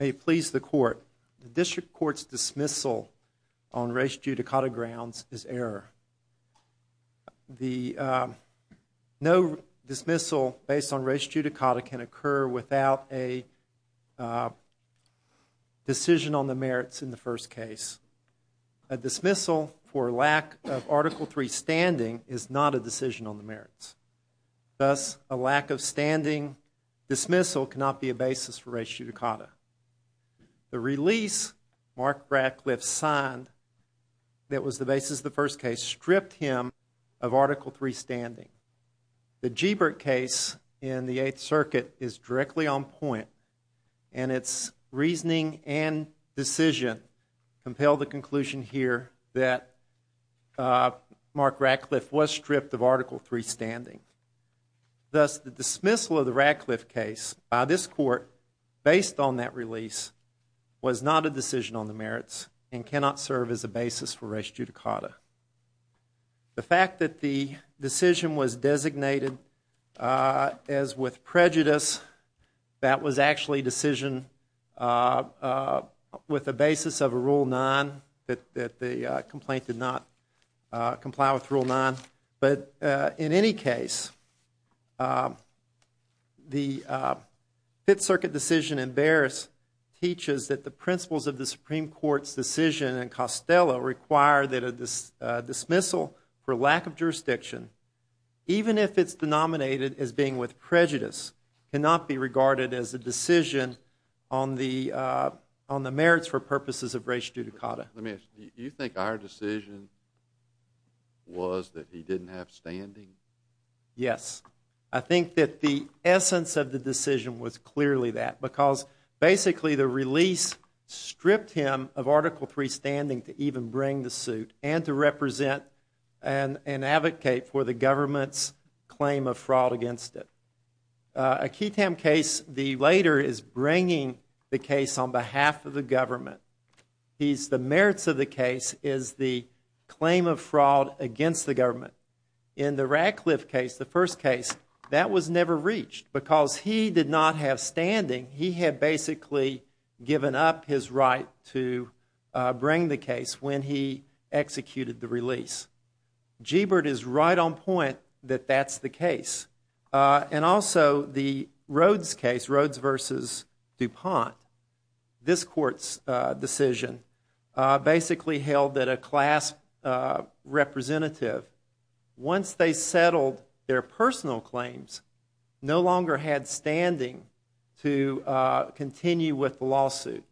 May please the court. The district court's dismissal on race judicata grounds is error. No dismissal based on race judicata can occur without a decision on the merits in the first case. A lack of standing dismissal cannot be a basis for race judicata. The release Mark Ratcliffe signed that was the basis of the first case stripped him of Article 3 standing. The Gbert case in the 8th Circuit is directly on point and its reasoning and decision compel the conclusion here that Mark Ratcliffe was stripped of Article 3 standing. Thus the dismissal of the Ratcliffe case by this court based on that release was not a decision on the merits and cannot serve as a basis for race judicata. The fact that the decision was designated as with prejudice, that was actually a decision with a basis of a Rule 9 that the complaint did not comply with Rule 9. But in any case, the 8th Circuit decision in Barris teaches that the principles of the Supreme Court's decision in Costello require that a dismissal for lack of jurisdiction, even if it's denominated as being with prejudice, cannot be regarded as a decision on the merits for purposes of race judicata. Let me ask you, do you think our decision was that he didn't have standing? Yes. I think that the essence of the decision was clearly that because basically the release stripped him of Article 3 standing to even bring the suit and to represent and advocate for the government's claim of fraud against it. A Keaton case, the later is bringing the case on behalf of the government. The merits of the case is the claim of fraud against the government. In the Ratcliffe case, the first case, that was never reached because he did not have standing. He had basically given up his right to bring the case when he executed the release. Gebert is right on point that that's the case. And also, the Rhodes case, Rhodes v. DuPont, this Court's decision basically held that a class representative, once they settled their personal claims, no longer had standing to continue with the lawsuit.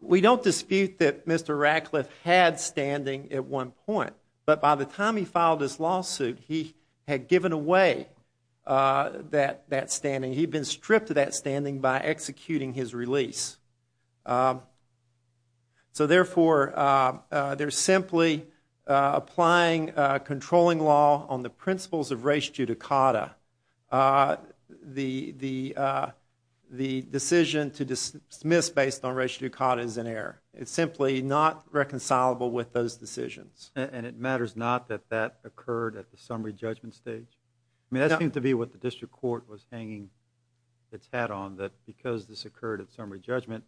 We don't dispute that Mr. Ratcliffe had standing at one point, but by the time he filed his lawsuit, he had given away that standing. He'd been stripped of that standing by executing his release. So therefore, they're simply applying a controlling law on the principles of res judicata. The decision to dismiss based on res judicata is an error. It's simply not reconcilable with those decisions. And it matters not that that occurred at the summary judgment stage? I mean, that seemed to be what the District Court was hanging its hat on, that because this occurred at summary judgment,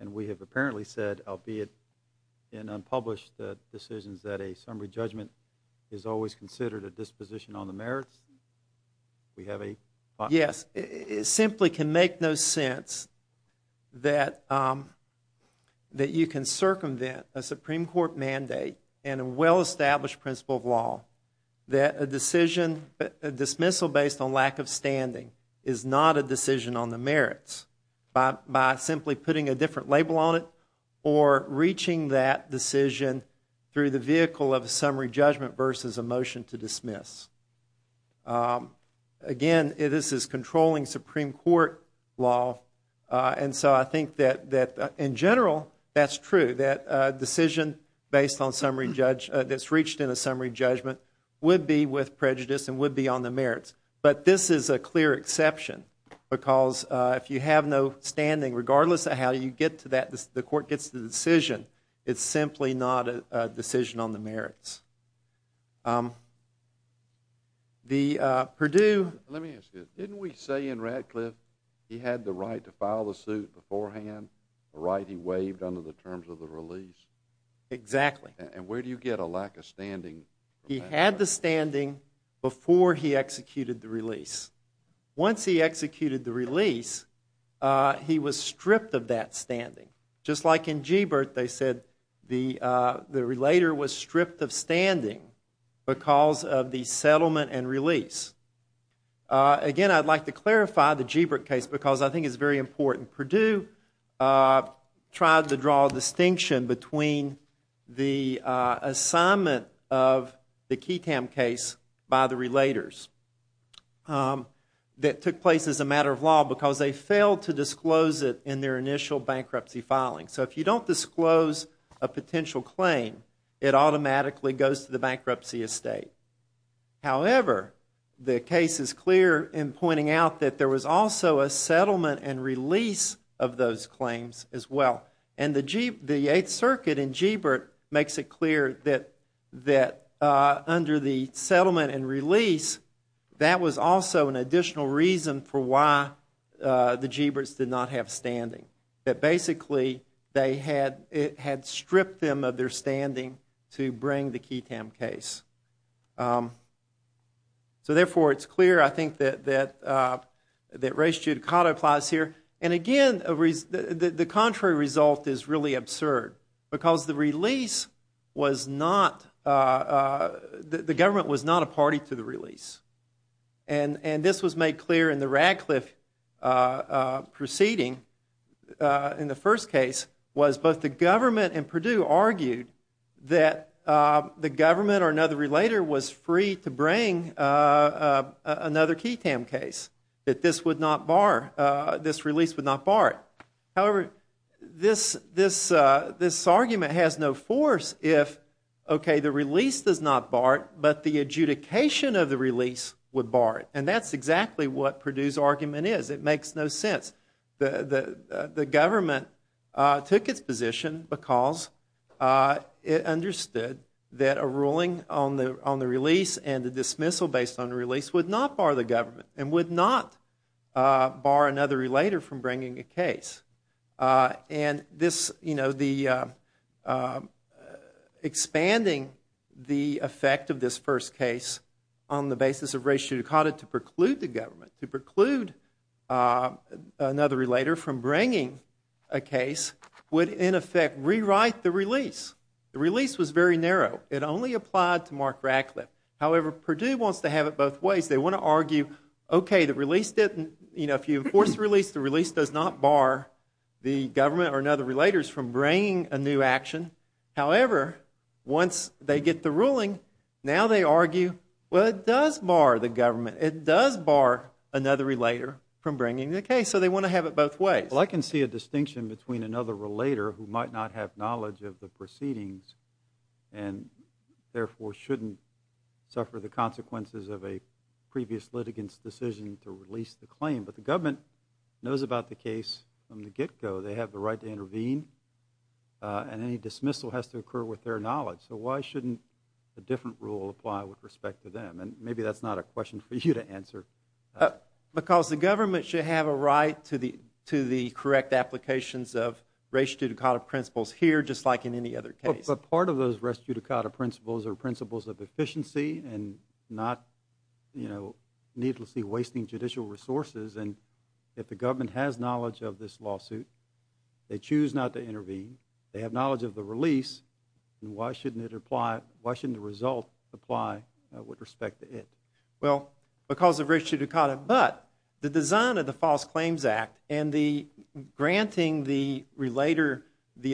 and we have apparently said, albeit in unpublished decisions, that a summary judgment is always considered a disposition on the merits? Yes. It simply can make no sense that you can circumvent a Supreme Court mandate and well-established principle of law, that a dismissal based on lack of standing is not a decision on the merits, by simply putting a different label on it or reaching that decision through the vehicle of a summary judgment versus a motion to dismiss. Again, this is controlling Supreme Court law, and so I think that in general, that's true, that a decision based on summary judgment, that's reached in a summary judgment, would be with prejudice and would be on the merits. But this is a clear exception, because if you have no standing, regardless of how you get to that, the court gets the decision, it's simply not a decision on the merits. The Purdue Let me ask you, didn't we say in Radcliffe he had the right to file the suit beforehand, the right he waived under the terms of the release? Exactly. And where do you get a lack of standing? He had the standing before he executed the release. Once he executed the release, he was stripped of that standing. Just like in Gebert, they said the relator was stripped of standing because of the settlement and release. Again, I'd like to clarify the Gebert case, because I think it's very important. Purdue tried to draw a distinction between the assignment of the Keatam case by the relators that took place as a matter of law, because they failed to disclose it in their initial bankruptcy filing. So if you don't disclose a potential claim, it automatically goes to the bankruptcy estate. However, the case is clear in pointing out that there was also a settlement and release of those claims as well. And the Eighth Circuit in Gebert makes it clear that under the settlement and release, that was also an additional reason for why the Geberts did not have standing, that basically they had stripped them of their standing to bring the Keatam case. So therefore, it's clear, I think, that Ray Giudicato applies here. And again, the contrary result is really absurd, because the government was not a party to the release. And this was made clear in the Radcliffe proceeding in the first case, was both the government and the relator was free to bring another Keatam case, that this would not bar, this release would not bar it. However, this argument has no force if, okay, the release does not bar it, but the adjudication of the release would bar it. And that's exactly what Purdue's argument is. It makes no sense. The government took its position because it understood that a release and a dismissal based on a release would not bar the government and would not bar another relator from bringing a case. And this, you know, the expanding the effect of this first case on the basis of Ray Giudicato to preclude the government, to preclude another relator from bringing a case would, in effect, rewrite the release. The release was very stark Radcliffe. However, Purdue wants to have it both ways. They want to argue, okay, the release didn't, you know, if you enforce the release, the release does not bar the government or another relator from bringing a new action. However, once they get the ruling, now they argue, well, it does bar the government. It does bar another relator from bringing the case. So they want to have it both ways. Well, I can see a distinction between another relator who might not have knowledge of the case and suffer the consequences of a previous litigants decision to release the claim. But the government knows about the case from the get-go. They have the right to intervene and any dismissal has to occur with their knowledge. So why shouldn't a different rule apply with respect to them? And maybe that's not a question for you to answer. Because the government should have a right to the correct applications of Ray Giudicato principles here just like in any other case. But part of those Ray Giudicato principles are principles of efficiency and not, you know, needlessly wasting judicial resources. And if the government has knowledge of this lawsuit, they choose not to intervene, they have knowledge of the release, then why shouldn't it apply, why shouldn't the result apply with respect to it? Well, because of Ray Giudicato. But the design of the False Claims Act and the granting the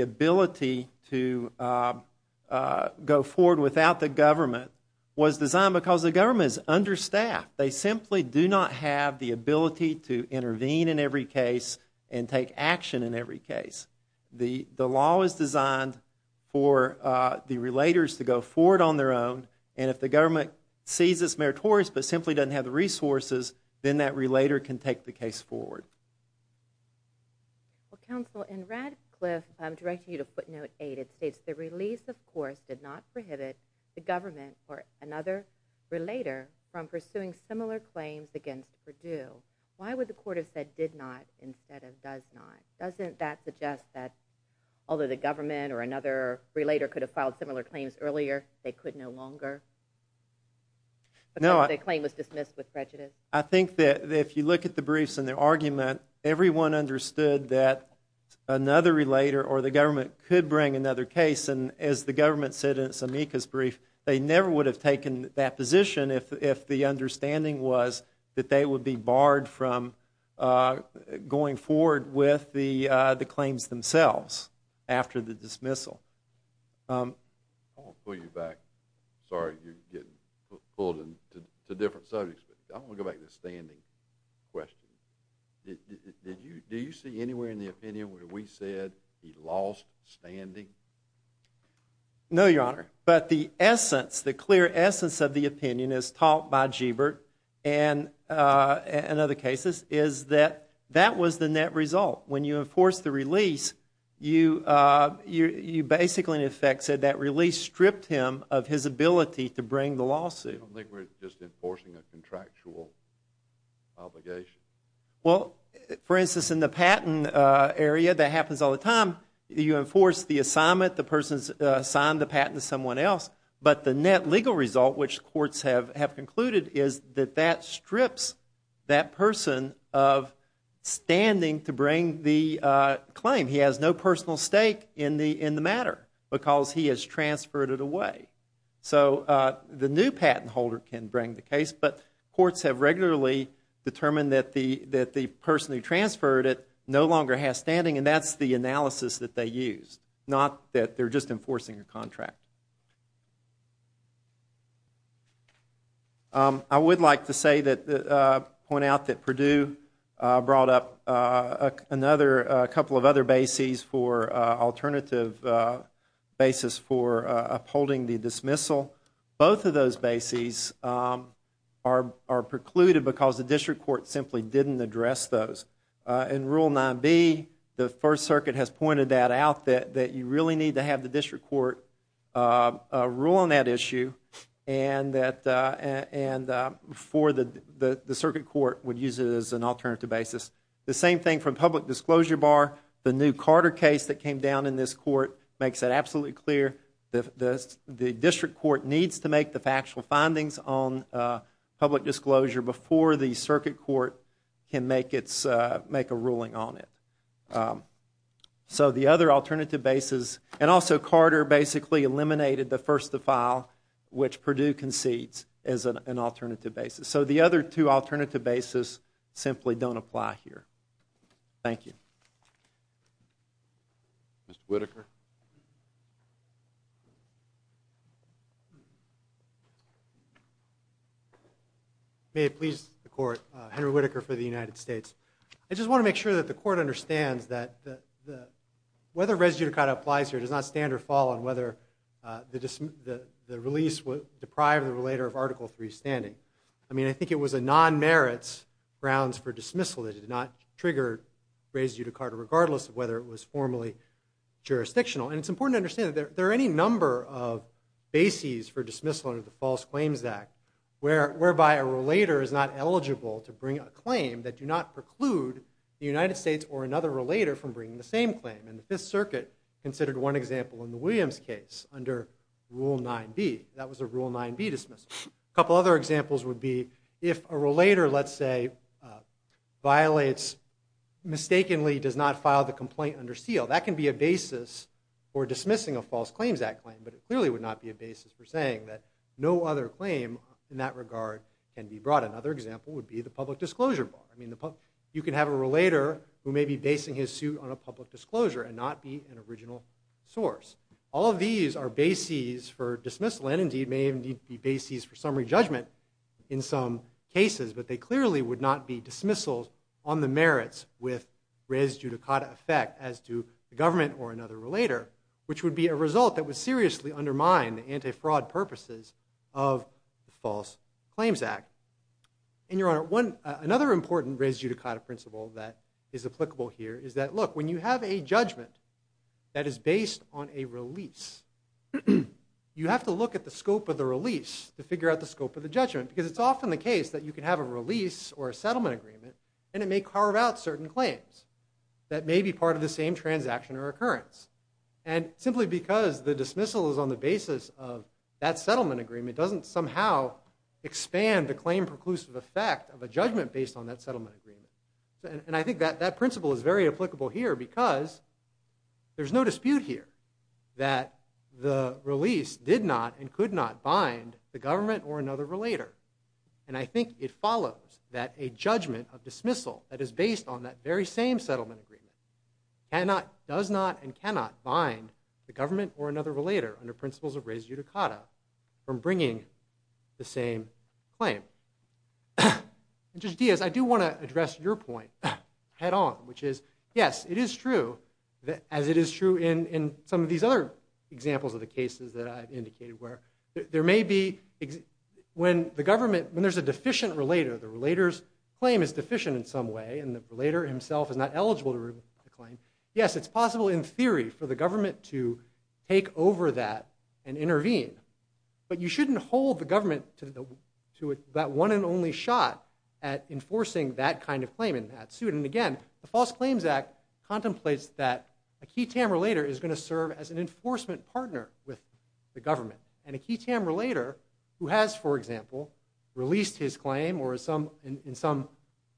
ability to go forward without the government was designed because the government is understaffed. They simply do not have the ability to intervene in every case and take action in every case. The law is designed for the relators to go forward on their own. And if the government sees this meritorious but simply doesn't have the resources, then that relator can take the case forward. Well, Counsel, in Radcliffe, directed you to footnote 8, it states the release, of course, did not prohibit the government or another relator from pursuing similar claims against Perdue. Why would the court have said did not instead of does not? Doesn't that suggest that although the government or another relator could have filed similar claims earlier, they could no longer because the claim was dismissed with prejudice? I think that if you look at the briefs and the argument, everyone understood that another relator or the government could bring another case. And as the government said in Samika's brief, they never would have taken that position if the understanding was that they would be barred from going forward with the claims themselves after the dismissal. I want to pull you back. Sorry, you're getting pulled into different subjects. I want to take the standing question. Do you see anywhere in the opinion where we said he lost standing? No, Your Honor. But the essence, the clear essence of the opinion as taught by Gebert and other cases is that that was the net result. When you enforce the release, you basically in effect said that release stripped him of his ability to bring the lawsuit. I don't think we're just enforcing a contractual obligation. Well, for instance, in the patent area, that happens all the time. You enforce the assignment, the person's assigned the patent to someone else. But the net legal result, which courts have concluded, is that that strips that person of standing to bring the claim. He has no patent holder can bring the case. But courts have regularly determined that the person who transferred it no longer has standing, and that's the analysis that they used, not that they're just enforcing a contract. I would like to say that, point out that Purdue brought up another, a couple of other bases for alternative basis for upholding the dismissal. Both of those bases are precluded because the district court simply didn't address those. In Rule 9B, the First Circuit has pointed that out, that you really need to have the district court rule on that issue and for the circuit court would use it as an alternative basis. The same thing from public disclosure bar, the new Carter case that came down in this court makes it absolutely clear that the district court needs to make the factual findings on public disclosure before the circuit court can make a ruling on it. The other alternative basis, and also Carter basically eliminated the first to file, which Purdue concedes as an alternative basis. The other two alternative basis simply don't apply here. Thank you. Mr. Whitaker. May it please the court, Henry Whitaker for the United States. I just want to make sure that the court understands that whether res judicata applies here does not stand or fall on whether the release would deprive the relator of Article 3 standing. I mean I think it was a non-merits grounds for dismissal that did not trigger res judicata regardless of whether it was formally jurisdictional. And it's important to understand that there are any number of bases for dismissal under the False Claims Act whereby a relator is not eligible to bring a claim that do not preclude the United States or another relator from bringing the same claim. And the Fifth Circuit considered one example in the Williams case under Rule 9B. That was a Rule 9B dismissal. A couple other examples would be if a relator, let's say, violates, mistakenly does not file the complaint under seal. That can be a basis for dismissing a False Claims Act claim, but it clearly would not be a basis for saying that no other claim in that regard can be brought. Another example would be the public disclosure bar. I mean you can have a relator who may be basing his suit on a public disclosure and not be an example for dismissal. And indeed may be bases for summary judgment in some cases, but they clearly would not be dismissals on the merits with res judicata effect as to the government or another relator, which would be a result that would seriously undermine the anti-fraud purposes of the False Claims Act. And Your Honor, another important res judicata principle that is applicable here is that, look, when you have a judgment that is based on a release, you have to look at the scope of the release to figure out the scope of the judgment. Because it's often the case that you can have a release or a settlement agreement and it may carve out certain claims that may be part of the same transaction or occurrence. And simply because the dismissal is on the basis of that settlement agreement doesn't somehow expand the claim preclusive effect of a judgment based on that settlement agreement. And I think that principle is very applicable here because there's no dispute here that the release did not and could not bind the government or another relator. And I think it follows that a judgment of dismissal that is based on that very same settlement agreement does not and cannot bind the government or another relator under principles of res judicata from bringing the same claim. And Judge Diaz, I do want to address your point head on, which is, yes, it is true, as it is true in some of these other examples of the cases that I've indicated where there may be, when the government, when there's a deficient relator, the relator's claim is deficient in some way and the relator himself is not eligible to claim, yes, it's possible in theory for the government to take over that and intervene. But you shouldn't hold the government to that one and only shot at that suit. And again, the False Claims Act contemplates that a key TAM relator is going to serve as an enforcement partner with the government. And a key TAM relator who has, for example, released his claim or is some, in some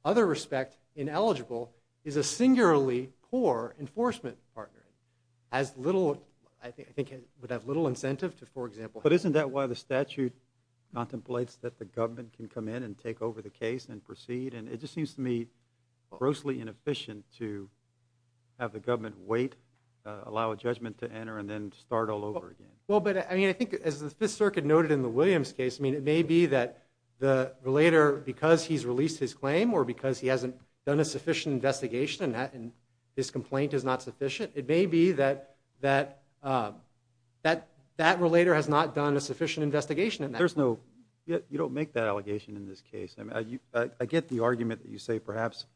other respect, ineligible, is a singularly poor enforcement partner. Has little, I think, would have little incentive to, for example. But isn't that why the statute contemplates that the government can come in and take over the case and proceed? And it just seems to me grossly inefficient to have the government wait, allow a judgment to enter, and then start all over again. Well, but, I mean, I think as the Fifth Circuit noted in the Williams case, I mean, it may be that the relator, because he's released his claim or because he hasn't done a sufficient investigation and that, and his complaint is not sufficient, it may be that, that, that You don't make that allegation in this case. I mean, I get the argument that you say perhaps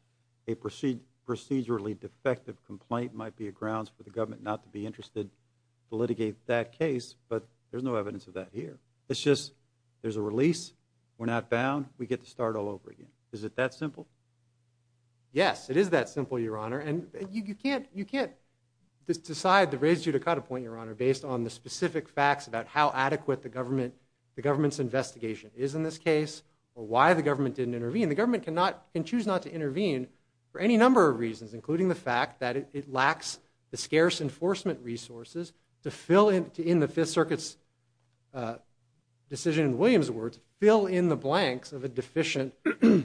a procedurally defective complaint might be a grounds for the government not to be interested to litigate that case, but there's no evidence of that here. It's just, there's a release, we're not bound, we get to start all over again. Is it that simple? Yes, it is that simple, Your Honor. And you can't, you can't decide the reason to cut a point, Your Honor, based on the specific facts about how adequate the government, the government's investigation is in this case, or why the government didn't intervene. The government cannot, can choose not to intervene for any number of reasons, including the fact that it lacks the scarce enforcement resources to fill in, to end the Fifth Circuit's decision in Williams' words, fill in the blanks of a deficient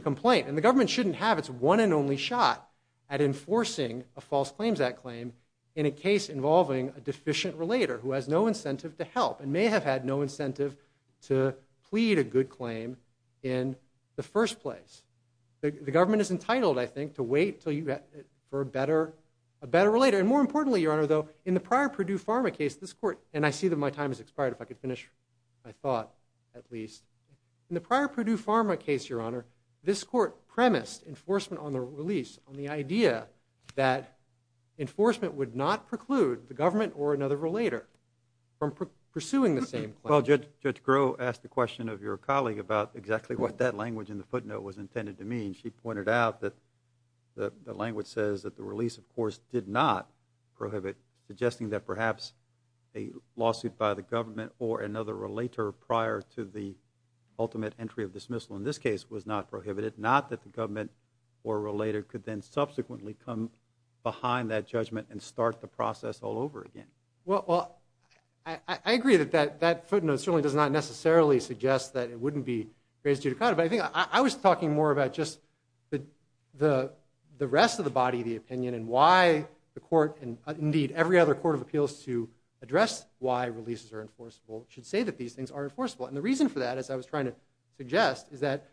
complaint. And the government shouldn't have its one and only shot at enforcing a False Claims Act claim in a case involving a deficient relator who has no incentive to help, and may have had no incentive to plead a good claim in the first place. The government is entitled, I think, to wait until you, for a better, a better relator. And more importantly, Your Honor, though, in the prior Purdue Pharma case, this court, and I see that my time has expired, if I could finish my thought, at least. In the prior Purdue Pharma case, Your Honor, this court premised enforcement on the government or another relator from pursuing the same claim. Well, Judge, Judge Groh asked the question of your colleague about exactly what that language in the footnote was intended to mean. She pointed out that the language says that the release, of course, did not prohibit, suggesting that perhaps a lawsuit by the government or another relator prior to the ultimate entry of dismissal, in this case, was not prohibited. Not that the government or a relator could then subsequently come behind that judgment and start the process all over again. Well, I agree that that footnote certainly does not necessarily suggest that it wouldn't be raised judicata, but I think I was talking more about just the rest of the body, the opinion, and why the court, and indeed every other court of appeals to address why releases are enforceable, should say that these things are enforceable. And the reason for that, as I was trying to suggest, is that,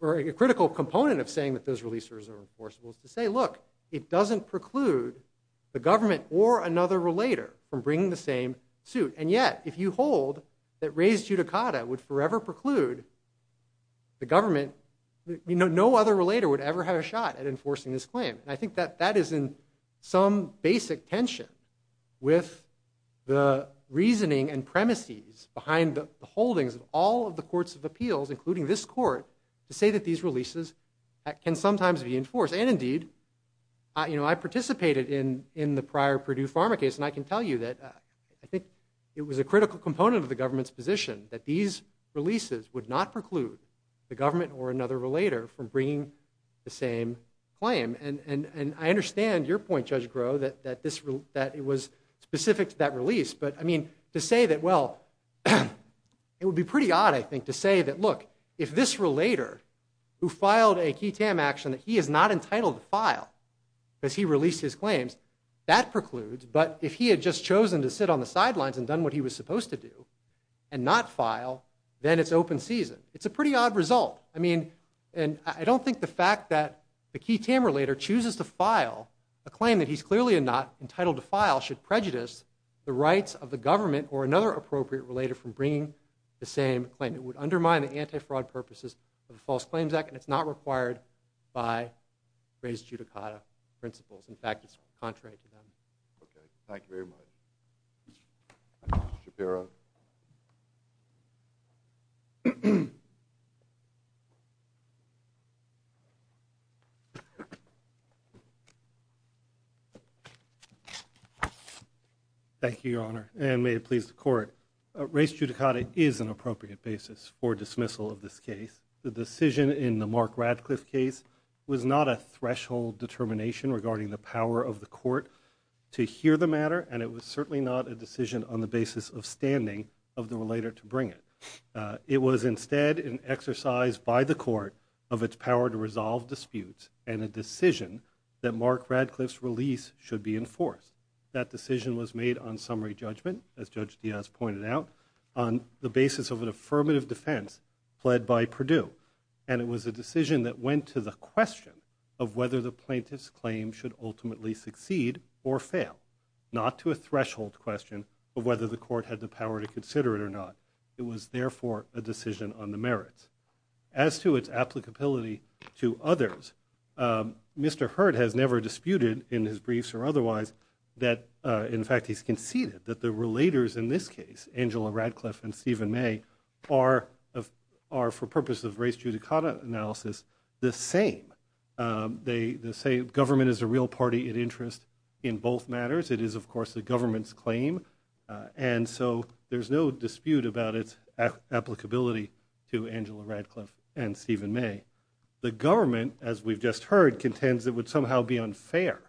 or a critical component of saying that those releases are enforceable is to say, look, it doesn't preclude the government or another relator from bringing the same suit. And yet, if you hold that raised judicata would forever preclude the government, no other relator would ever have a shot at enforcing this claim. And I think that that is in some basic tension with the reasoning and premises behind the holdings of all of the courts of appeals, including this court, to say that these releases can sometimes be enforced. And indeed, I participated in the prior Purdue Pharma case, and I can tell you that I think it was a critical component of the government's position that these releases would not preclude the government or another relator from bringing the same claim. And I understand your point, Judge Groh, that it was specific to that release. But I mean, to say that, well, it would be pretty odd, I think, to say that, look, if this relator who filed a key TAM action that he is not entitled to file because he released his claims, that precludes. But if he had just chosen to sit on the sidelines and done what he was supposed to do and not file, then it's open season. It's a pretty odd result. I mean, and I don't think the fact that the key TAM relator chooses to file a claim that he's clearly not entitled to file should prejudice the rights of the government or another appropriate relator from bringing the same claim. It would undermine the anti-fraud purposes of the False Claims Act, and it's not required by raised judicata principles. In fact, it's contrary to them. Okay. Thank you very much. Mr. Shapiro. Thank you, Your Honor, and may it please the Court. Raised judicata is an appropriate basis for dismissal of this case. The decision in the Mark Radcliffe case was not a threshold determination regarding the power of the Court to hear the matter, and it was certainly not a decision on the basis of standing of the relator to bring it. It was instead an exercise by the Court of its power to resolve disputes and a decision that Mark Radcliffe's release should be enforced. That decision was made on summary judgment, as Judge Diaz pointed out, on the basis of an affirmative defense pled by Purdue. And it was a decision that went to the question of whether the plaintiff's claim should ultimately succeed or fail, not to a threshold question of whether the Court had the power to consider it or not. It was therefore a decision on the merits. As to its applicability to others, Mr. Hurd has never disputed in his briefs or otherwise that, in fact, he's conceded that the relators in this case, Angela Radcliffe and Stephen May, are, for purpose of raised judicata analysis, the same. They say government is a real party in interest in both matters. It is, of course, the government's claim, and so there's no dispute about its applicability to Angela Radcliffe and Stephen May. The government, as we've just heard, contends it would somehow be unfair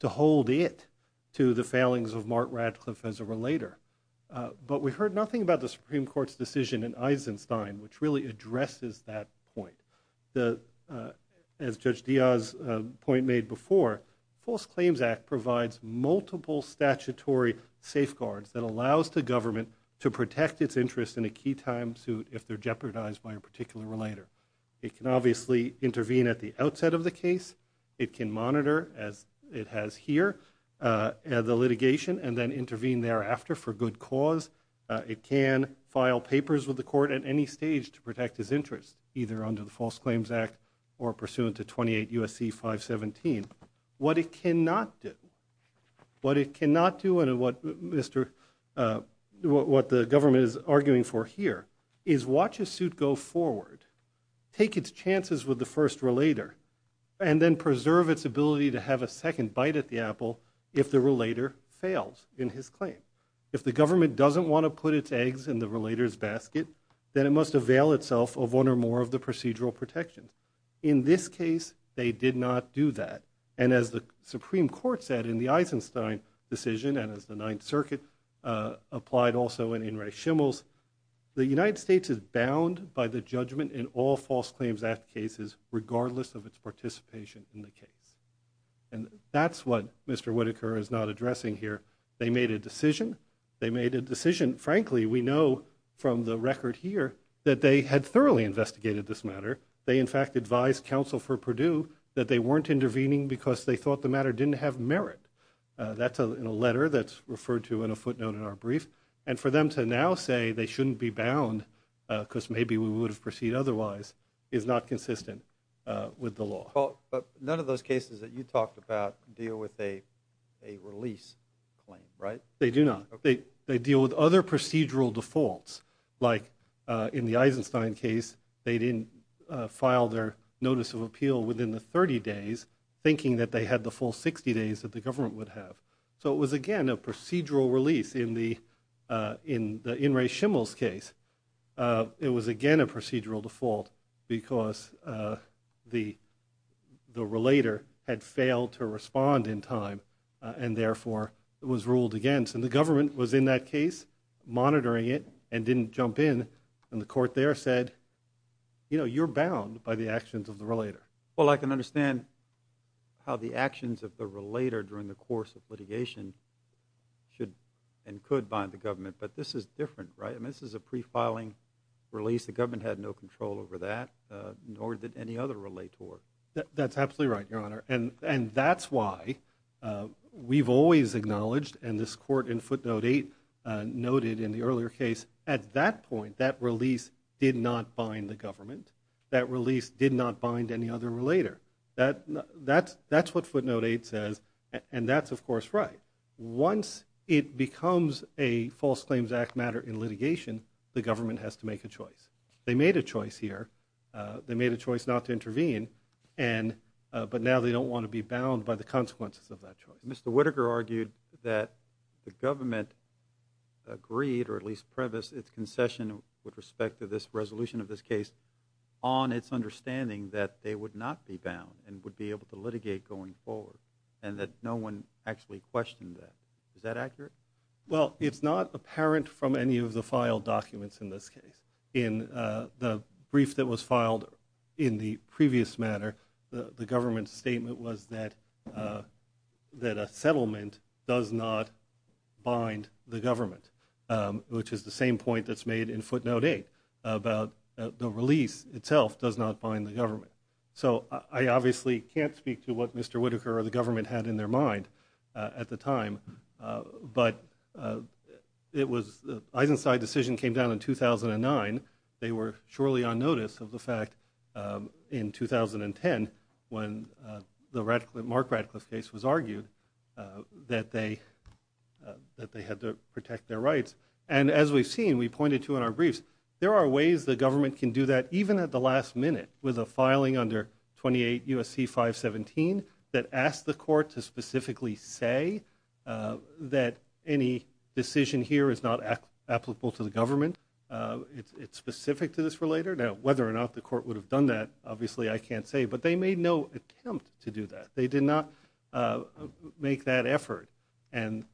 to hold it to the failings of Mark Radcliffe as a relator. But we heard nothing about the Supreme Court's decision in Eisenstein which really addresses that point. As Judge Diaz's point made before, False Claims Act provides multiple statutory safeguards that allows the government to protect its interests in a key time suit if they're jeopardized by a particular relator. It can obviously intervene at the outset of the case. It can monitor, as it has here, the litigation and then intervene thereafter for good cause. It can file papers with the court at any stage to protect its interests, either under the False Claims Act or pursuant to 28 U.S.C. 517. What it cannot do, what it cannot do and what the government is arguing for here is watch a suit go forward, take its chances with the first relator, and then preserve its ability to have a second bite at the apple if the relator fails in his claim. If the government doesn't want to put its eggs in the relator's basket, then it must avail itself of one or more of the procedural protections. In this case, they did not do that. And as the Supreme Court said in the Eisenstein decision and as the Ninth Circuit applied also in In Res Chimels, the United States is bound by the judgment in all False Claims Act cases regardless of its participation in the case. And that's what Mr. Whitaker is not addressing here. They made a decision. They made a decision. Frankly, we know from the record here that they had thoroughly investigated this matter. They, in fact, advised counsel for Purdue that they weren't intervening because they thought the matter didn't have merit. That's in a letter that's referred to in a footnote in our brief. And for them to now say they shouldn't be bound because maybe we would have proceeded otherwise is not consistent with the law. Paul, but none of those cases that you talked about deal with a release claim, right? They do not. They deal with other procedural defaults. Like in the Eisenstein case, they didn't file their Notice of Appeal within the 30 days thinking that they had the full 60 days that the government would have. So it was, again, a procedural release in the Shimmels case. It was, again, a procedural default because the relator had failed to respond in time and therefore was ruled against. And the government was in that case monitoring it and didn't jump in. And the court there said, you know, you're bound by the actions of the relator. Well, I can understand how the actions of the relator during the course of litigation should and could bind the government. But this is different, right? I mean, this is a pre-filing release. The government had no control over that, nor did any other relator. That's absolutely right, Your Honor. And that's why we've always acknowledged, and this court in footnote 8 noted in the earlier case, at that point, that release did not bind the government. That release did not bind any other relator. That's what footnote 8 says. And that's, of course, right. Once it becomes a False Claims Act matter in litigation, the government has to make a choice. They made a choice here. They made a choice not to intervene. But now they don't want to be bound by the consequences of that choice. Mr. Whitaker argued that the government agreed, or at least prevised, its concession with respect to this resolution of this case on its understanding that they would not be bound and would be able to litigate going forward, and that no one actually questioned that. Is that accurate? Well, it's not apparent from any of the filed documents in this case. In the brief that was filed in the previous matter, the government's statement was that a settlement does not bind the government, which is the same point that's made in footnote 8 about the release itself does not bind the government. So I obviously can't speak to what Mr. Whitaker or the government had in their mind at the time, but it was, the Eisenstein decision came down in 2009. They were surely on notice of the fact in 2010 when the Mark Radcliffe case was argued that they had to protect their rights. And as we've seen, we pointed to in our briefs, there are ways the government can do that even at the last minute with a filing under 28 U.S.C. 517 that asks the court to specifically say that any decision here is not applicable to the government. It's specific to this for later. Now, whether or not the court would have done that, obviously I can't say, but they made no attempt to do that. They did not make that effort, and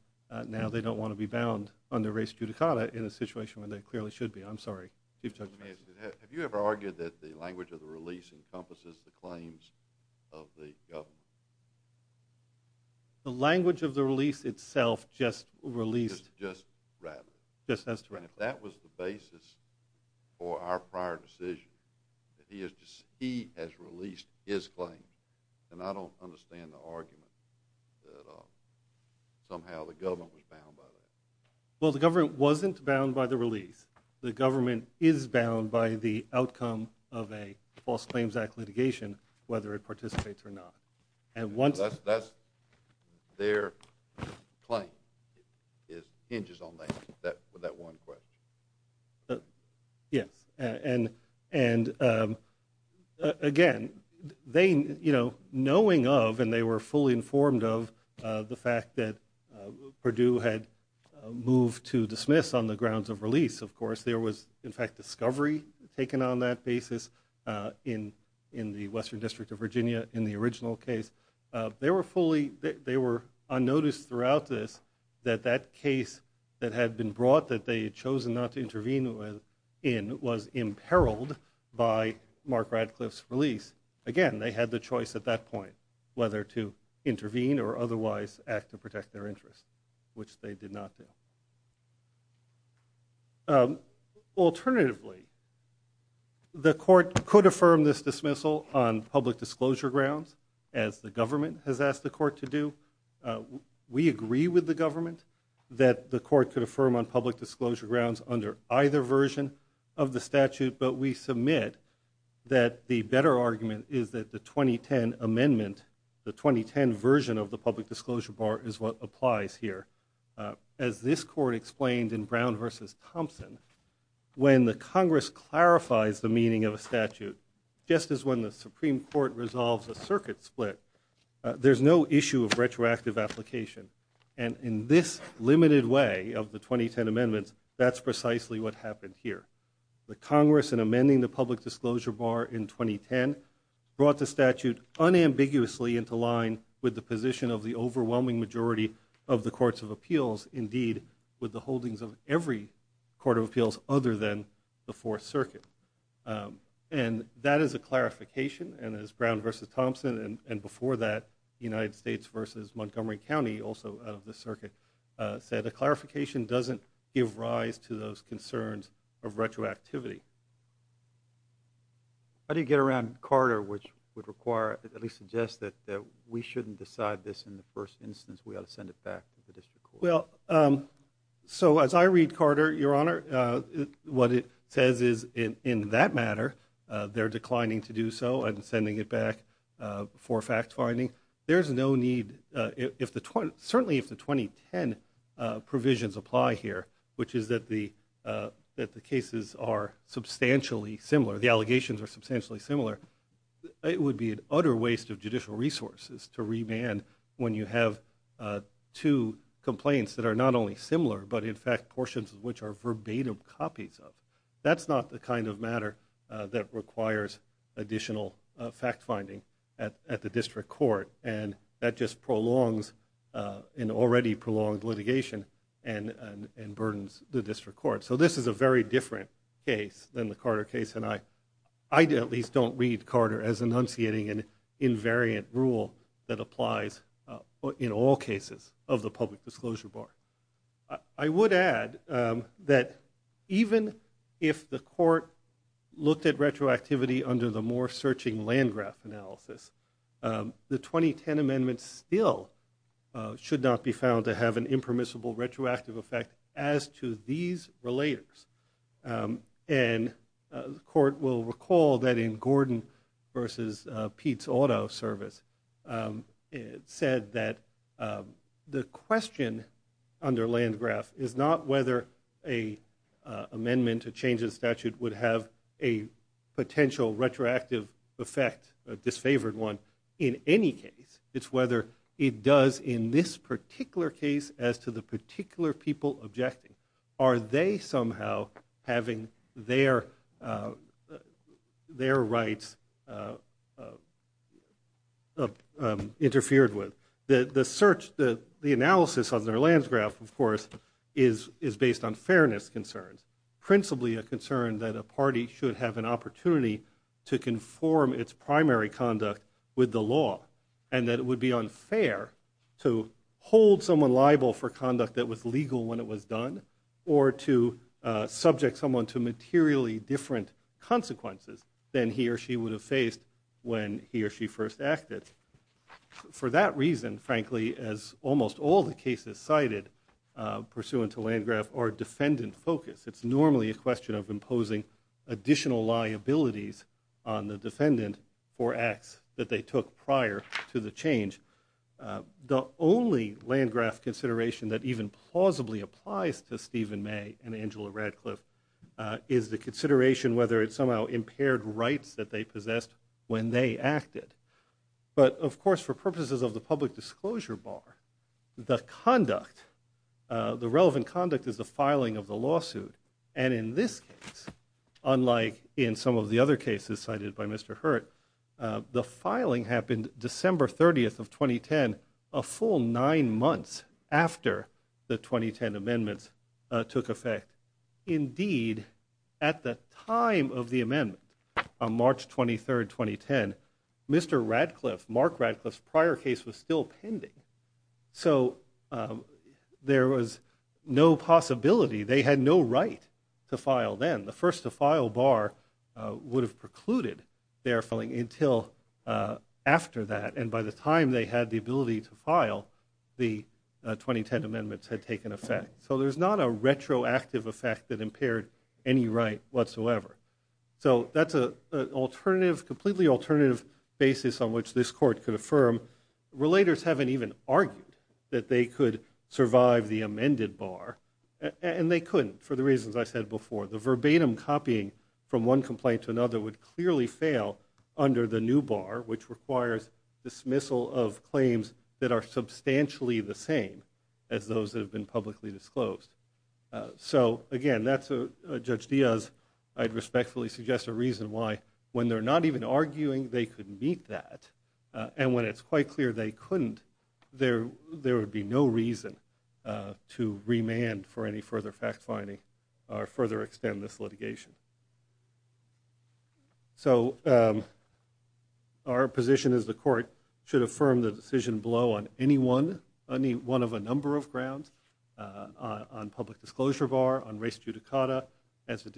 now they don't want to be bound under res judicata in a situation when they clearly should be. I'm sorry. Chief Justice. Have you ever argued that the language of the release encompasses the claims of the government? The language of the release itself just released. Just rather. Just as directly. And if that was the basis for our prior decision, that he has released his claims, then I don't understand the argument that somehow the government was bound by that. Well, the government wasn't bound by the release. The government is bound by the outcome of a false claims act litigation, whether it participates or not. And once... That's their claim hinges on that one question. Yes. And again, they, you know, knowing of, and they were fully informed of the fact that move to dismiss on the grounds of release, of course, there was, in fact, discovery taken on that basis in the Western District of Virginia in the original case. They were fully, they were unnoticed throughout this, that that case that had been brought that they had chosen not to intervene in was imperiled by Mark Radcliffe's release. Again, they had the choice at that point, whether to intervene or otherwise act to protect their interests, which they did not do. Alternatively, the court could affirm this dismissal on public disclosure grounds as the government has asked the court to do. We agree with the government that the court could affirm on public disclosure grounds under either version of the statute, but we submit that the better argument is that the 2010 amendment, the 2010 version of the public disclosure bar, as this court explained in Brown versus Thompson, when the Congress clarifies the meaning of a statute, just as when the Supreme Court resolves a circuit split, there's no issue of retroactive application. And in this limited way of the 2010 amendments, that's precisely what happened here. The Congress in amending the public disclosure bar in 2010 brought the statute unambiguously into line with the position of the overwhelming majority of the courts of appeals, indeed with the holdings of every court of appeals other than the Fourth Circuit. And that is a clarification, and as Brown versus Thompson and before that United States versus Montgomery County, also out of the circuit, said a clarification doesn't give rise to those concerns of retroactivity. How do you get around Carter, which would require, at least suggest that we shouldn't decide this in the first instance, we ought to send it back to the district court? So as I read Carter, Your Honor, what it says is in that matter, they're declining to do so and sending it back for fact-finding. There's no need, certainly if the 2010 provisions apply here, which is that the cases are substantially similar, the allegations are substantially similar, it would be an utter waste of judicial resources to remand when you have two complaints that are not only similar, but in fact portions of which are verbatim copies of. That's not the kind of matter that requires additional fact-finding at the district court, and that just prolongs an already prolonged litigation and burdens the district court. So this is a very different case than the Carter case, and I at least don't read Carter as enunciating an invariant rule that applies in all cases of the public disclosure bar. I would add that even if the court looked at retroactivity under the more searching land graph analysis, the 2010 amendments still should not be found to have an impermissible retroactive effect as to these relators. And the court will recall that in Gordon versus Pete's auto service, it said that the question under land graph is not whether an amendment to change the statute would have a potential retroactive effect, a disfavored one, in any case. It's whether it does in this particular case as to the particular people objecting. Are they somehow having their rights interfered with? The search, the analysis of their land graph, of course, is based on fairness concerns, principally a concern that a party should have an opportunity to conform its primary conduct with the law, and that it would be unfair to hold someone liable for conduct that was legal when it was done or to subject someone to materially different consequences than he or she would have faced when he or she first acted. For that reason, frankly, as almost all the cases cited pursuant to criminal liabilities on the defendant for acts that they took prior to the change, the only land graph consideration that even plausibly applies to Stephen May and Angela Radcliffe is the consideration whether it somehow impaired rights that they possessed when they acted. But of course, for purposes of the public disclosure bar, the conduct, the relevant conduct is the filing of the lawsuit. And in this case, unlike in some of the other cases cited by Mr. Hurt, the filing happened December 30th of 2010, a full nine months after the 2010 amendments took effect. Indeed, at the time of the amendment, on March 23rd 2010, Mr. Radcliffe, Mark Radcliffe's prior case was still pending. So there was no question no possibility, they had no right to file then. The first to file bar would have precluded their filing until after that. And by the time they had the ability to file, the 2010 amendments had taken effect. So there's not a retroactive effect that impaired any right whatsoever. So that's a completely alternative basis on which this court could affirm. Relators haven't even argued that they could survive the amended bar, and they couldn't for the reasons I said before. The verbatim copying from one complaint to another would clearly fail under the new bar, which requires dismissal of claims that are substantially the same as those that have been publicly disclosed. So again, that's a, Judge Diaz, I'd respectfully suggest a reason why when they're not even arguing, they could meet that. And when it's quite clear they couldn't, there would be no reason to remand for any further fact-finding or further extend this litigation. So our position is the court should affirm the decision below on any one of a number of grounds, on public disclosure bar, on race judicata, as on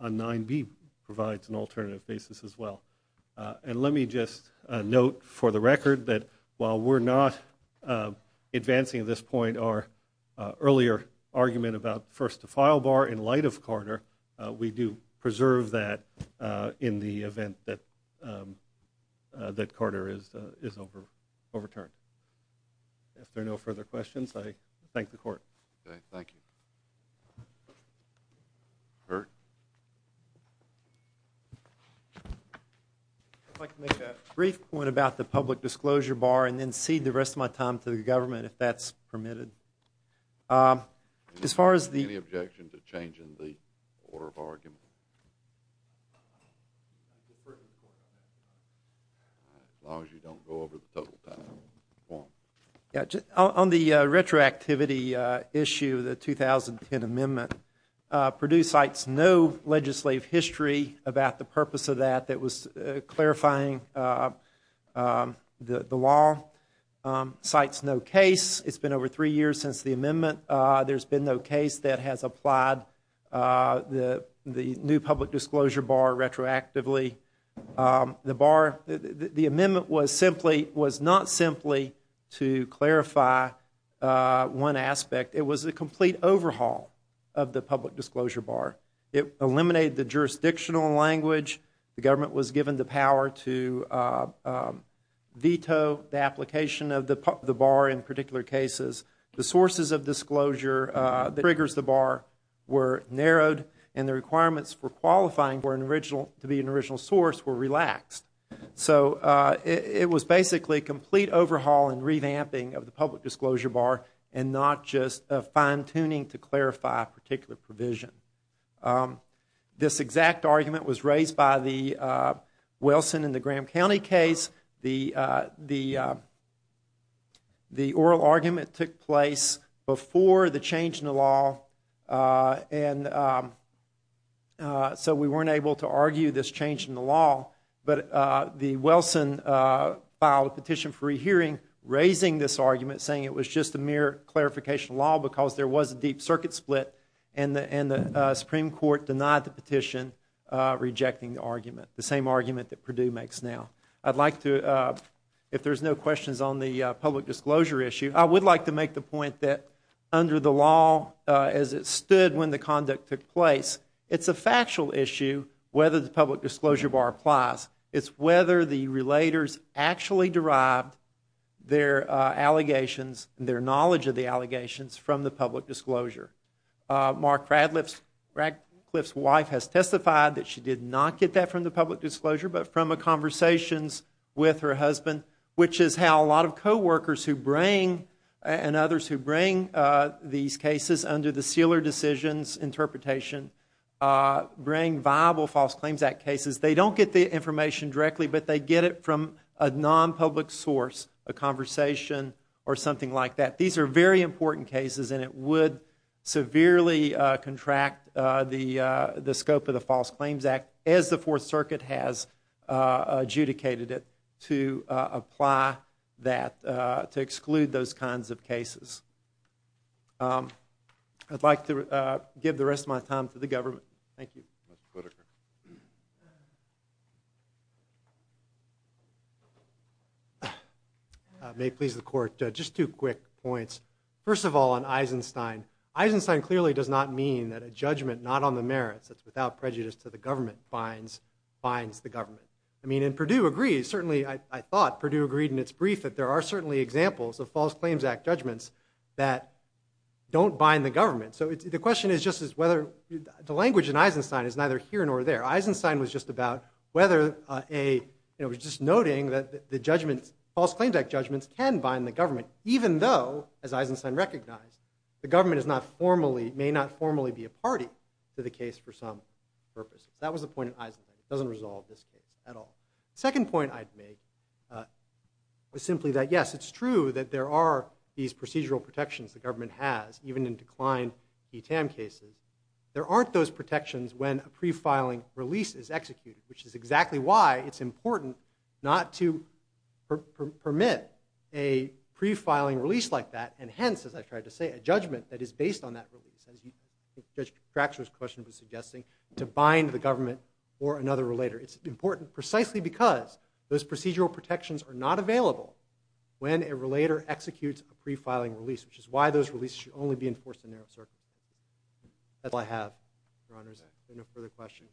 9B provides an alternative basis as well. And let me just note for the record that while we're not advancing this point, our earlier argument about first to file bar in light of Carter, we do preserve that in the event that Carter is overturned. If there are no further questions. I'd like to make a brief point about the public disclosure bar and then cede the rest of my time to the government if that's permitted. As far as the Any objection to changing the order of argument? As long as you don't go over the total time. On the legislative history about the purpose of that, that was clarifying the law. Cites no case. It's been over three years since the amendment. There's been no case that has applied the new public disclosure bar retroactively. The bar, the amendment was simply, was not simply to clarify one aspect. It was a complete overhaul of the public disclosure bar. It eliminated the jurisdictional language. The government was given the power to veto the application of the bar in particular cases. The sources of disclosure that triggers the bar were narrowed and the requirements for qualifying for an original, to be an original source were relaxed. So it was basically a complete overhaul and revamping of the public disclosure provision. This exact argument was raised by the Wilson and the Graham County case. The oral argument took place before the change in the law and so we weren't able to argue this change in the law. But the Wilson filed a petition for a hearing raising this argument saying it was just a mere clarification law because there was a deep circuit split and the Supreme Court denied the petition rejecting the argument, the same argument that Purdue makes now. I'd like to, if there's no questions on the public disclosure issue, I would like to make the point that under the law as it stood when the conduct took place, it's a factual issue whether the public disclosure bar applies. It's whether the relators actually derived their allegations, their knowledge of the allegations from the public disclosure. Mark Radcliffe's wife has testified that she did not get that from the public disclosure but from a conversations with her husband, which is how a lot of co-workers who bring and others who bring these cases under the sealer decisions interpretation bring viable false claims act cases. They don't get the information directly but they get it from a non-public source, a conversation or something like that. These are very important cases and it would severely contract the scope of the False Claims Act as the Fourth Circuit has adjudicated it to apply that, to exclude those kinds of cases. I'd like to give the rest of my time to the government. Thank you. May it please the court, just two quick points. First of all on Eisenstein, Eisenstein clearly does not mean that a judgment not on the merits that's without prejudice to the government binds the government. I mean and Perdue agrees, certainly I thought Perdue agreed in its brief that there are certainly examples of False Claims Act judgments that don't bind the government. So the question is just as whether, the language in Eisenstein is neither here nor there. Eisenstein was just about whether a, he was just noting that the judgments, False Claims Act judgments can bind the government even though, as Eisenstein recognized, the government is not formally, may not formally be a party to the case for some purpose. That was the point of Eisenstein. It doesn't resolve this case at all. Second point I'd make is simply that yes, it's true that there are these procedural protections the government has, even in declined ETAM cases. There aren't those protections when a pre-filing release is executed, which is exactly why it's important not to permit a pre-filing release like that and hence, as I tried to say, a judgment that is based on that release, as Judge Cratchit's question was suggesting, to bind the government or another relator. It's important precisely because those procedural protections are not a pre-filing release, which is why those releases should only be enforced in a narrow circuit. That's all I have, Your Honors. If there are no further questions.